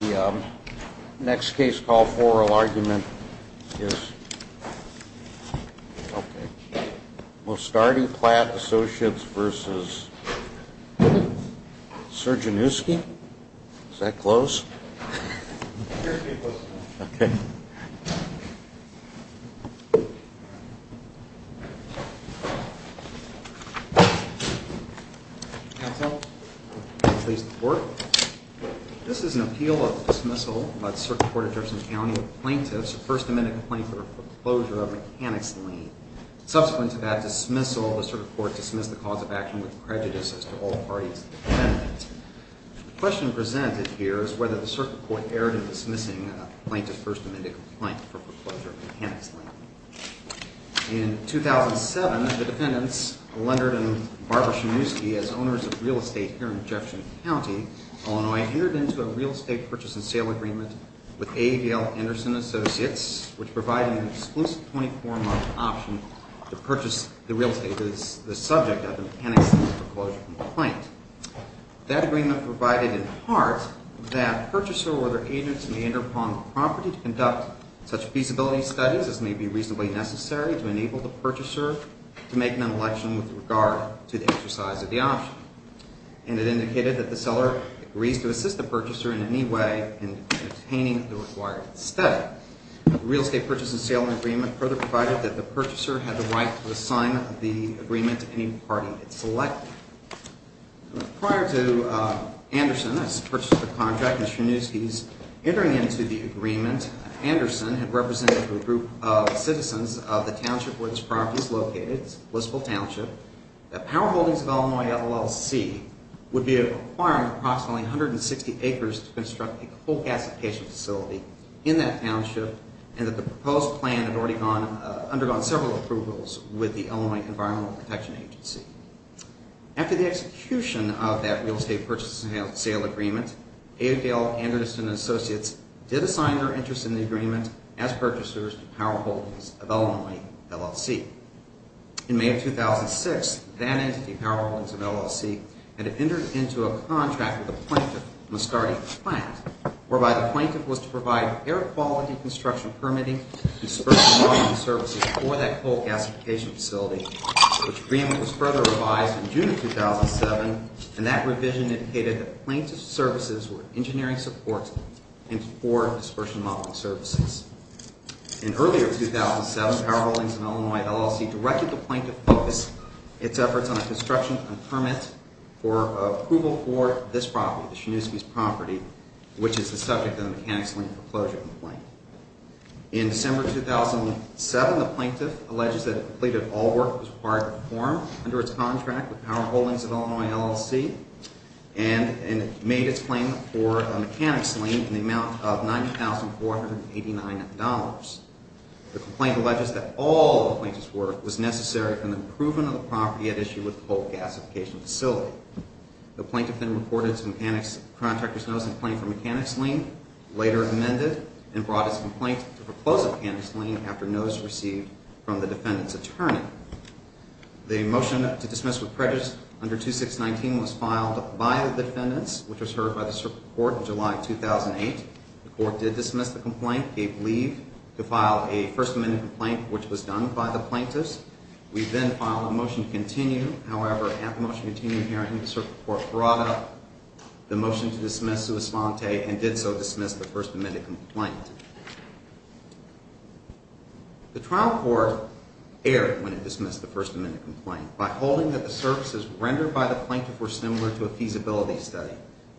The next case call for oral argument is Mostardi-Platt Associates v. Czerniejewski. Is that close? Here's me question. Okay. Counsel, please report. This is an appeal of dismissal by the Circuit Court of Judson County of plaintiffs. First amendment complaint for foreclosure of mechanics lien. Subsequent to that dismissal, the Circuit Court dismissed the cause of action with prejudice as to all parties intended. The question presented here is whether the Circuit Court erred in dismissing a plaintiff's First Amendment complaint for foreclosure of mechanics lien. In 2007, the defendants, Lunderden and Barber-Czerniejewski, as owners of real estate here in Jefferson County, Illinois, entered into a real estate purchase and sale agreement with AVL Anderson Associates, which provided an exclusive 24-month option to purchase the real estate that is the subject of a mechanics lien foreclosure complaint. That agreement provided in part that purchaser or their agents may enter upon the property to conduct such feasibility studies as may be reasonably necessary to enable the purchaser to make an election with regard to the exercise of the option. And it indicated that the seller agrees to assist the purchaser in any way in obtaining the required study. The real estate purchase and sale agreement further provided that the purchaser had the right to assign the agreement to any party it selected. Prior to Anderson's purchase of the contract and Czerniejewski's entering into the agreement, Anderson had represented a group of citizens of the township where this property is located, Blissville Township, that Power Holdings of Illinois LLC would be requiring approximately 160 acres to construct a coal gasification facility in that township and that the proposed plan had already undergone several approvals with the Illinois Environmental Protection Agency. After the execution of that real estate purchase and sale agreement, AVL Anderson Associates did assign their interest in the agreement as purchasers to Power Holdings of Illinois LLC. In May of 2006, that entity, Power Holdings of Illinois LLC, had entered into a contract with a plaintiff, Muscati Plant, whereby the plaintiff was to provide air quality construction permitting and dispersion modeling services for that coal gasification facility. The agreement was further revised in June of 2007, and that revision indicated that plaintiff's services were engineering supports and for dispersion modeling services. In earlier 2007, Power Holdings of Illinois LLC directed the plaintiff to focus its efforts on a construction permit for approval for this property, the Czerniejewski's property, which is the subject of the mechanics lien for closure complaint. In December 2007, the plaintiff alleges that it completed all work that was required to perform under its contract with Power Holdings of Illinois LLC and made its claim for a mechanics lien in the amount of $90,489. The complaint alleges that all of the plaintiff's work was necessary for the improvement of the property at issue with the coal gasification facility. The plaintiff then reported to the mechanics contractor's notice in a claim for mechanics lien, later amended, and brought his complaint to the proposed mechanics lien after notice received from the defendant's attorney. The motion to dismiss with prejudice under 2619 was filed by the defendants, which was heard by the circuit court in July 2008. The court did dismiss the complaint, gave leave to file a First Amendment complaint, which was done by the plaintiffs. We then filed a motion to continue. However, after motion to continue hearing, the circuit court brought up the motion to dismiss sua sponte and did so dismiss the First Amendment complaint. The trial court erred when it dismissed the First Amendment complaint by holding that the services rendered by the plaintiff were similar to a feasibility study,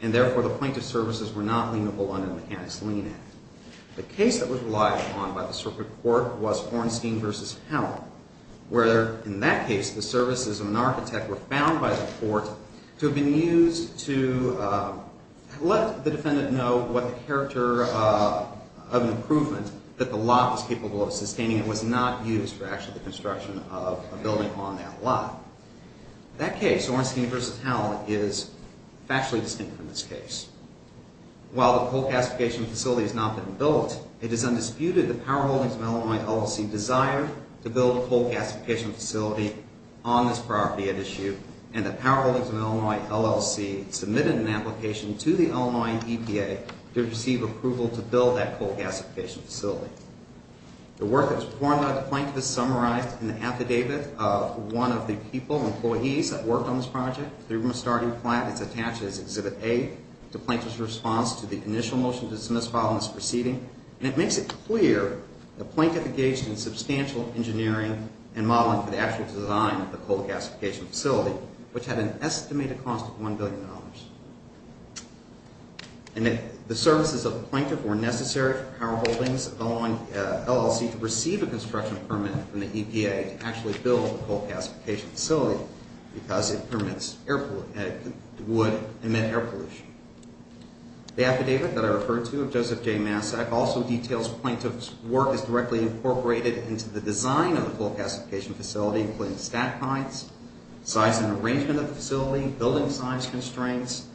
and therefore the plaintiff's services were not liable under the Mechanics Lien Act. The case that was relied upon by the circuit court was Hornstein v. Howell, where in that case the services of an architect were found by the court to have been used to let the defendant know what the character of an improvement that the lot was capable of sustaining and was not used for actually the construction of a building on that lot. That case, Hornstein v. Howell, is factually distinct from this case. While the coal gasification facility has not been built, it is undisputed that the powerholdings of Illinois LLC desired to build a coal gasification facility on this property at issue, and the powerholdings of Illinois LLC submitted an application to the Illinois EPA to receive approval to build that coal gasification facility. The work that was performed by the plaintiff is summarized in the affidavit of one of the people, employees, that worked on this project. The room of starting plan is attached as Exhibit A to the plaintiff's response to the initial motion to dismiss following this proceeding. And it makes it clear the plaintiff engaged in substantial engineering and modeling for the actual design of the coal gasification facility, which had an estimated cost of $1 billion. And the services of the plaintiff were necessary for powerholdings of Illinois LLC to receive a construction permit from the EPA to actually build the coal gasification facility because it would emit air pollution. The affidavit that I referred to of Joseph J. Massac also details plaintiff's work as directly incorporated into the design of the coal gasification facility, including stack heights, size and arrangement of the facility, building size constraints,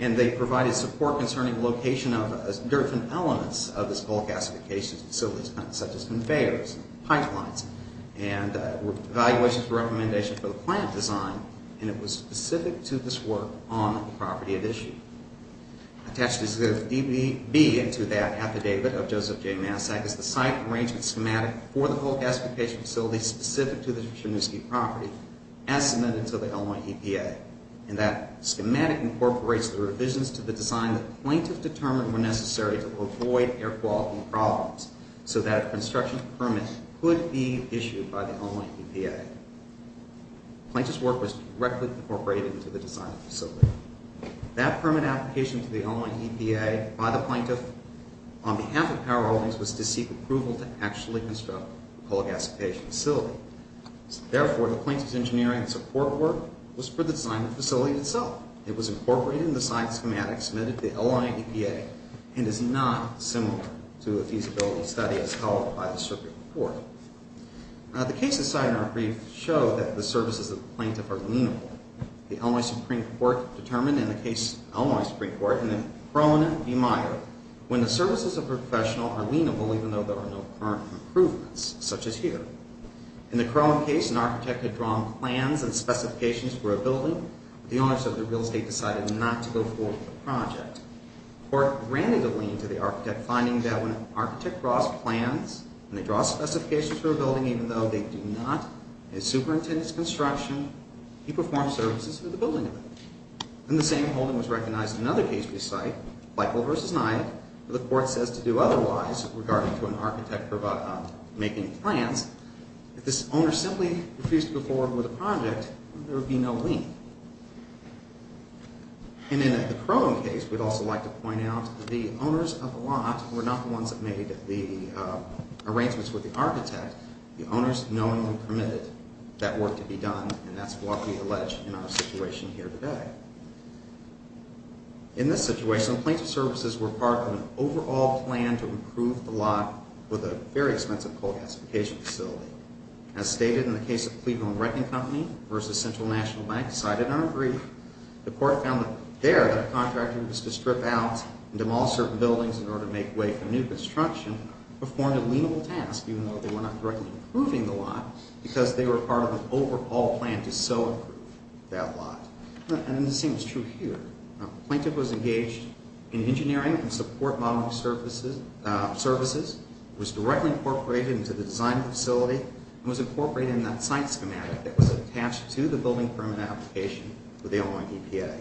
and they provided support concerning location of different elements of this coal gasification facility, such as conveyors, pipelines, and evaluations and recommendations for the plant design. And it was specific to this work on the property of issue. Attached as Exhibit B into that affidavit of Joseph J. Massac is the site arrangement schematic for the coal gasification facility specific to the Chernovsky property as submitted to the Illinois EPA. And that schematic incorporates the revisions to the design that the plaintiff determined were necessary to avoid air quality problems so that a construction permit could be issued by the Illinois EPA. Plaintiff's work was directly incorporated into the design of the facility. That permit application to the Illinois EPA by the plaintiff on behalf of Power Holdings was to seek approval to actually construct the coal gasification facility. Therefore, the plaintiff's engineering support work was for the design of the facility itself. It was incorporated in the site schematic submitted to the Illinois EPA and is not similar to a feasibility study as followed by the circuit report. The cases cited in our brief show that the services of the plaintiff are leanable. The Illinois Supreme Court determined in the case of the Illinois Supreme Court in the Krohn v. Meyer when the services of a professional are leanable even though there are no current improvements such as here. In the Krohn case, an architect had drawn plans and specifications for a building. The owners of the real estate decided not to go forward with the project. The court granted a lien to the architect finding that when an architect draws plans, when they draw specifications for a building even though they do not, they superintend its construction, he performs services for the building of it. In the same holding was recognized in another case we cite, Bicol v. Nyack, where the court says to do otherwise regarding to an architect making plans. If this owner simply refused to go forward with the project, there would be no lien. And in the Krohn case, we'd also like to point out that the owners of the lot were not the ones that made the arrangements with the architect. The owners knowingly permitted that work to be done and that's what we allege in our situation here today. In this situation, the plaintiff's services were part of an overall plan to improve the lot with a very expensive coal gasification facility. As stated in the case of Cleveland Renting Company v. Central National Bank, cited in our brief, the court found that there the contractor was to strip out and demolish certain buildings in order to make way for new construction performed a lienable task even though they were not directly improving the lot because they were part of an overall plan to so improve that lot. And the same is true here. The plaintiff was engaged in engineering and support modeling services, was directly incorporated into the design of the facility, and was incorporated in that site schematic that was attached to the building permit application for the Illinois EPA.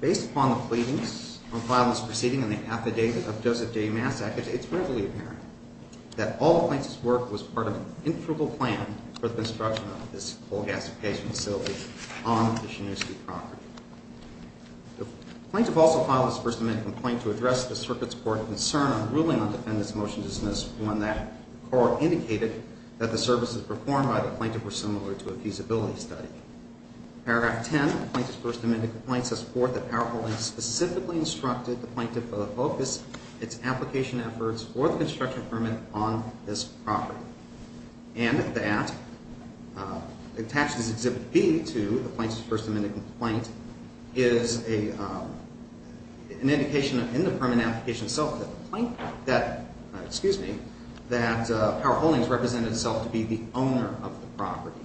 Based upon the pleadings on file that's proceeding in the affidavit of Joseph J. Massack, it's readily apparent that all the plaintiff's work was part of an integral plan for the construction of this coal gasification facility on the Chinooskee property. The plaintiff also filed his First Amendment complaint to address the circuit's court concern on ruling on defendants' motion to dismiss, one that the court indicated that the services performed by the plaintiff were similar to a feasibility study. Paragraph 10 of the plaintiff's First Amendment complaint says, for the power holding specifically instructed the plaintiff to focus its application efforts or the construction permit on this property. And that attaches Exhibit B to the plaintiff's First Amendment complaint is an indication in the permit application itself that power holdings represented itself to be the owner of the property.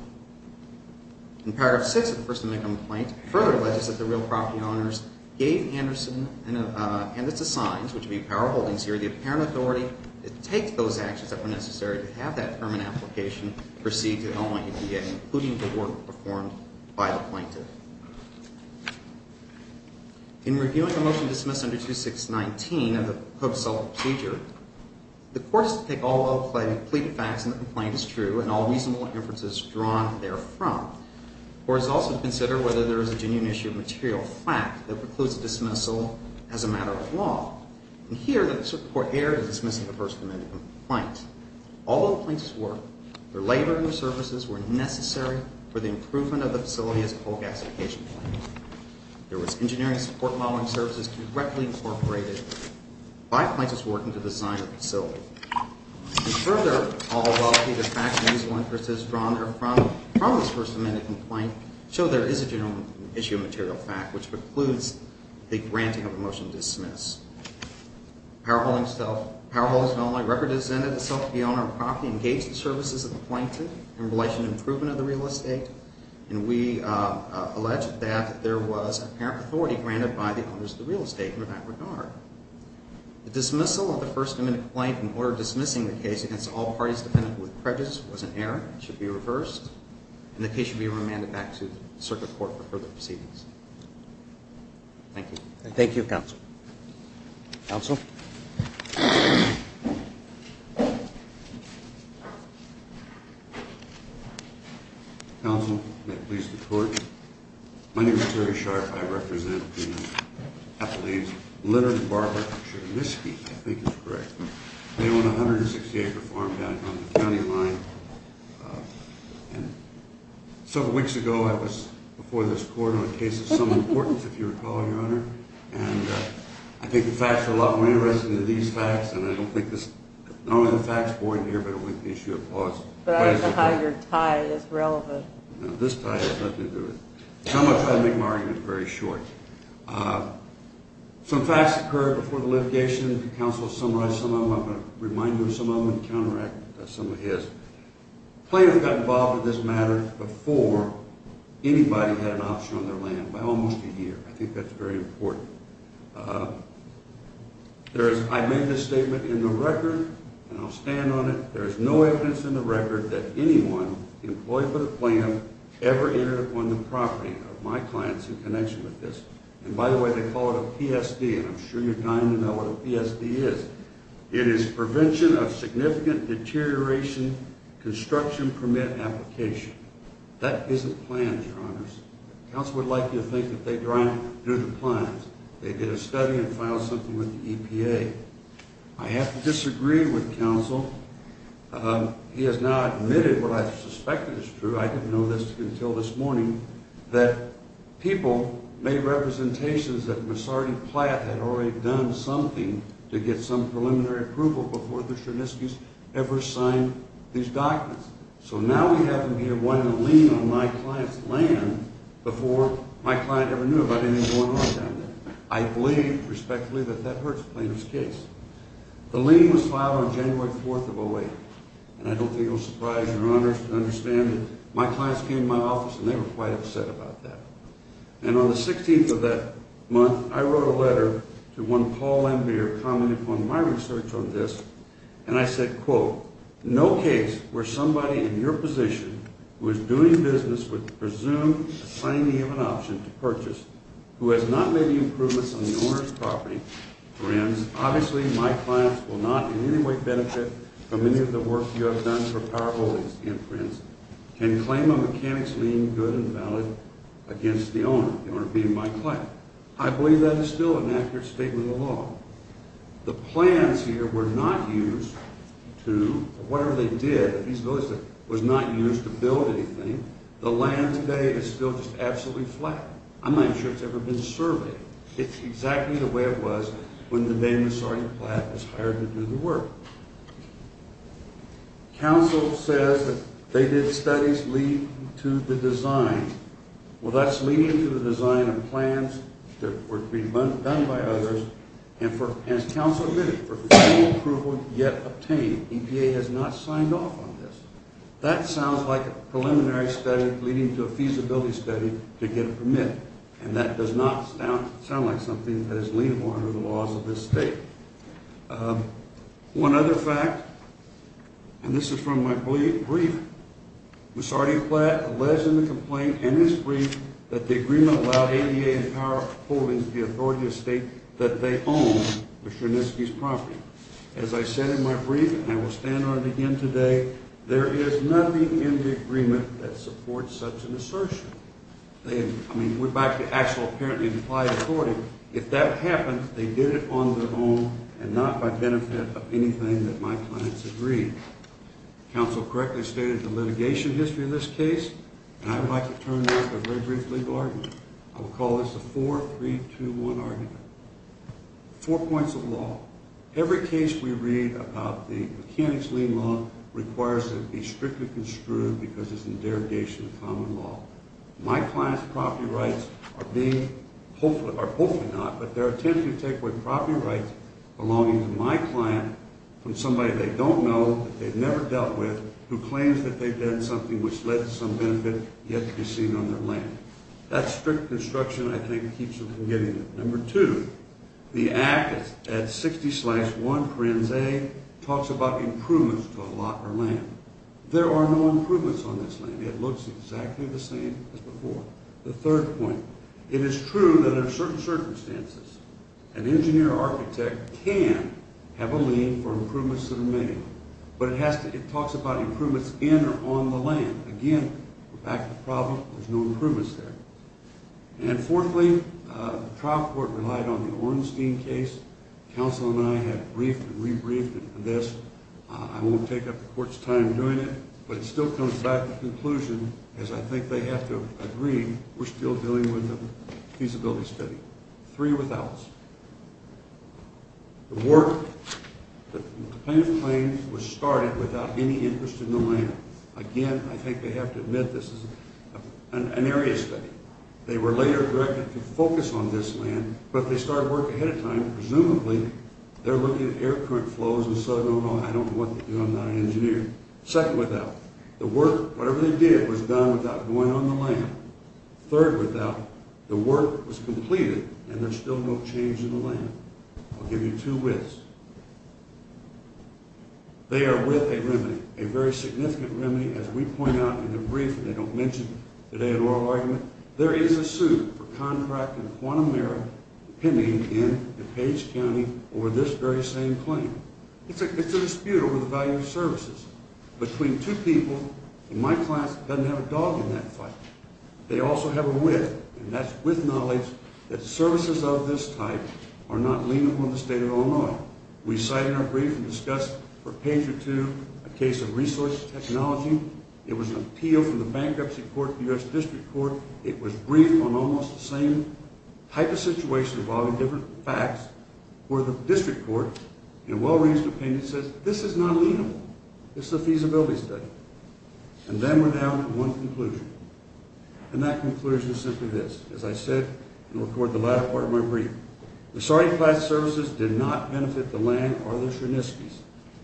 In paragraph 6 of the First Amendment complaint, it further alleges that the real property owners gave Anderson and its assigns, which would be power holdings here, the apparent authority to take those actions that were necessary to have that permit application proceed to Illinois EPA, including the work performed by the plaintiff. In reviewing the motion dismissed under 2619 of the Code of Self-Procedure, the court is to take all of the complete facts in the complaint as true and all reasonable inferences drawn therefrom. The court is also to consider whether there is a genuine issue of material fact that precludes dismissal as a matter of law. And here, the circuit court erred in dismissing the First Amendment complaint. All of the plaintiffs' work, their labor, and their services were necessary for the improvement of the facility as a coal gasification plant. There was engineering support modeling services directly incorporated by plaintiffs' work into the design of the facility. And further, all of the facts and reasonable inferences drawn therefrom from this First Amendment complaint show there is a genuine issue of material fact, which precludes the granting of a motion to dismiss. Power Holdings of Illinois records it as intended that the owner of the property engage the services of the plaintiff in relation to improvement of the real estate, and we allege that there was apparent authority granted by the owners of the real estate in that regard. The dismissal of the First Amendment complaint in order of dismissing the case against all parties dependent with prejudice was an error and should be reversed, and the case should be remanded back to the circuit court for further proceedings. Thank you. Thank you, Counsel. Counsel? Counsel, may it please the Court. My name is Terry Sharpe. I represent the Appalachians. Leonard and Barbara Churlisky, I think is correct. They own a 160-acre farm down on the county line. Several weeks ago I was before this Court on a case of some importance, if you recall, Your Honor. And I think the facts are a lot more interesting than these facts, and I don't think this, not only are the facts boring here, but it would be an issue of pause. But I don't know how your tie is relevant. This tie has nothing to do with it. So I'm going to try to make my argument very short. Some facts occurred before the litigation. Counsel has summarized some of them. I'm going to remind you of some of them and counteract some of his. Plaintiffs got involved with this matter before anybody had an option on their land by almost a year. I think that's very important. I made this statement in the record, and I'll stand on it. There is no evidence in the record that anyone employed for the plan ever entered upon the property of my clients in connection with this. And by the way, they call it a PSD, and I'm sure you're dying to know what a PSD is. It is Prevention of Significant Deterioration Construction Permit Application. That isn't planned, Your Honors. Counsel would like you to think that they drank due to plans. They did a study and filed something with the EPA. I have to disagree with Counsel. He has now admitted what I suspected is true. I didn't know this until this morning, that people made representations that Massardi Platt had already done something to get some preliminary approval before the Cherniskys ever signed these documents. So now we have them here wanting to lean on my client's land before my client ever knew about anything going on down there. I believe, respectfully, that that hurts the plaintiff's case. The lien was filed on January 4th of 2008, and I don't think it will surprise Your Honors to understand that my clients came to my office and they were quite upset about that. And on the 16th of that month, I wrote a letter to one Paul Embier, commenting upon my research on this, and I said, quote, No case where somebody in your position who is doing business with the presumed assignee of an option to purchase who has not made any improvements on the owner's property, friends, obviously my clients will not in any way benefit from any of the work you have done for powerholdings, and friends, can claim a mechanic's lien good and valid against the owner, the owner being my client. I believe that is still an accurate statement of law. The plans here were not used to, whatever they did, it was not used to build anything. The land today is still just absolutely flat. I'm not even sure it's ever been surveyed. It's exactly the way it was when the name of Sergeant Platt was hired to do the work. Counsel says that they did studies leading to the design. Well, that's leading to the design of plans that were being done by others and, as counsel admitted, for approval yet obtained. EPA has not signed off on this. That sounds like a preliminary study leading to a feasibility study to get a permit, and that does not sound like something that is liable under the laws of this state. One other fact, and this is from my brief, was Sergeant Platt alleged in the complaint in his brief that the agreement allowed ADA and powerholdings the authority to state that they own the Chernitsky's property. As I said in my brief, and I will stand on it again today, there is nothing in the agreement that supports such an assertion. I mean, we're back to actual apparently implied authority. If that happened, they did it on their own and not by benefit of anything that my clients agreed. Counsel correctly stated the litigation history of this case, and I would like to turn now to a very brief legal argument. I will call this the 4-3-2-1 argument. Four points of law. Every case we read about the mechanics lien law requires it to be strictly construed because it's in derogation of common law. My client's property rights are being, or hopefully not, but they're attempting to take away property rights belonging to my client from somebody they don't know, that they've never dealt with, who claims that they've done something which led to some benefit yet to be seen on their land. That strict construction, I think, keeps them from getting it. Number two, the act at 60-1, parens A, talks about improvements to a lot or land. There are no improvements on this land. It looks exactly the same as before. The third point. It is true that in certain circumstances, an engineer or architect can have a lien for improvements that are made, but it talks about improvements in or on the land. Again, we're back to the problem. There's no improvements there. And fourthly, the trial court relied on the Orenstein case. Counsel and I have briefed and re-briefed on this. I won't take up the court's time doing it, but it still comes back to the conclusion, as I think they have to agree, we're still dealing with a feasibility study. Three withouts. The work, the plaintiff's claim was started without any interest in the land. Again, I think they have to admit this is an area study. They were later directed to focus on this land, but they started work ahead of time. Presumably, they're looking at air current flows and so on and on. I don't know what they do. I'm not an engineer. Second without. The work, whatever they did, was done without going on the land. Third without. The work was completed, and there's still no change in the land. I'll give you two withs. They are with a remedy. A very significant remedy, as we point out in the brief, and they don't mention today an oral argument. There is a suit for contract and quantum error pending in DuPage County over this very same claim. It's a dispute over the value of services. Between two people in my class that doesn't have a dog in that fight, they also have a with, and that's with knowledge that services of this type are not leanable in the state of Illinois. We cite in our brief and discuss for page or two a case of resource technology. It was an appeal from the Bankruptcy Court to the U.S. District Court. It was briefed on almost the same type of situation involving different facts where the District Court, in a well-reasoned opinion, says this is not leanable. This is a feasibility study. And then we're down to one conclusion, and that conclusion is simply this. As I said in the latter part of my brief, the sorry class services did not benefit the land or the Cherniskys.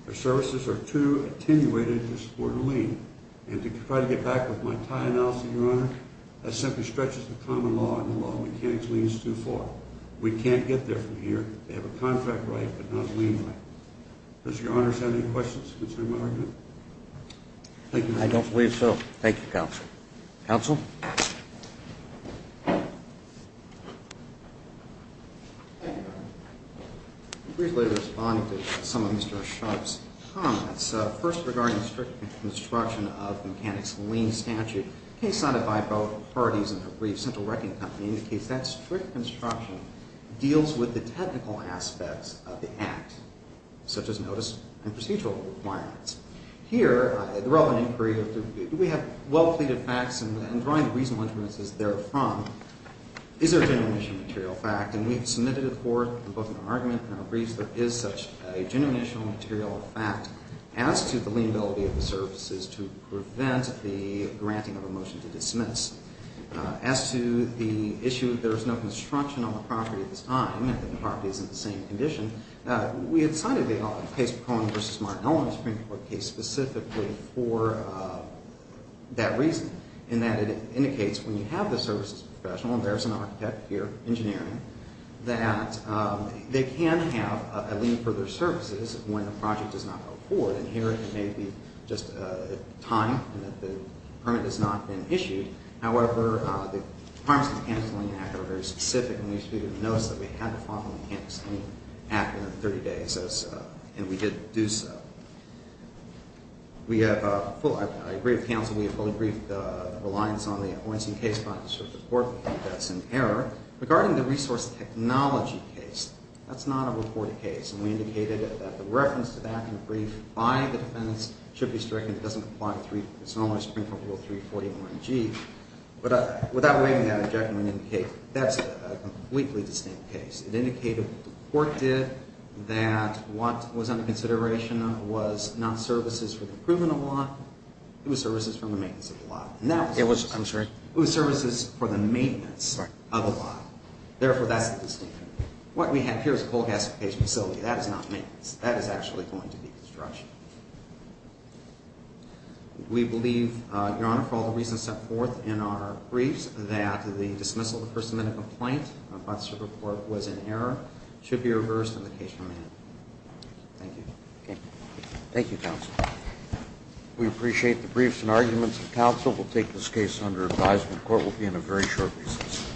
Their services are too attenuated to support a lean. And to try to get back with my tie analysis, Your Honor, that simply stretches the common law and the law of mechanics leans too far. We can't get there from here. They have a contract right but not a lean right. Does Your Honor have any questions concerning my argument? I don't believe so. Thank you, Counsel. Counsel? Thank you, Your Honor. Briefly responding to some of Mr. Sharpe's comments, first regarding the strict construction of the mechanics lean statute, a case cited by both parties in their brief, Central Wrecking Company, indicates that strict construction deals with the technical aspects of the act, such as notice and procedural requirements. Here, the relevant inquiry of do we have well-fleeted facts and drawing reasonable inferences therefrom, is there a genuine issue of material fact? And we have submitted it forth in both an argument and our briefs that there is such a genuine issue of material fact as to the leanability of the services to prevent the granting of a motion to dismiss. As to the issue that there is no construction on the property at this time, and that the property is in the same condition, we had cited the case of Cohen v. Martin-Owen, the Supreme Court case, specifically for that reason, in that it indicates when you have the services professional, and there's an architect here, engineering, that they can have a lien for their services when the project does not go forward. And here it may be just time and that the permit has not been issued. However, the departments of the Counseling Act are very specific and we issued a notice that we had to follow the Counseling Act within 30 days, and we did do so. I agree with counsel. We have fully briefed the reliance on the abortion case by the Supreme Court. That's in error. Regarding the resource technology case, that's not a reported case, and we indicated that the reference to that in the brief by the defendants should be stricken. It doesn't apply. It's only a Supreme Court Rule 341G. But without waiving that objection, we indicate that's a completely distinct case. It indicated what the court did, that what was under consideration was not services for the improvement of the lot, it was services for the maintenance of the lot. I'm sorry? It was services for the maintenance of the lot. Therefore, that's the distinction. What we have here is a coal gasification facility. That is not maintenance. That is actually going to be construction. We believe, Your Honor, for all the reasons set forth in our briefs, that the dismissal of the First Amendment complaint about the Supreme Court was in error. It should be reversed and the case remanded. Thank you. Okay. Thank you, counsel. We appreciate the briefs and arguments of counsel. We'll take this case under advisement. The court will be in a very short recess.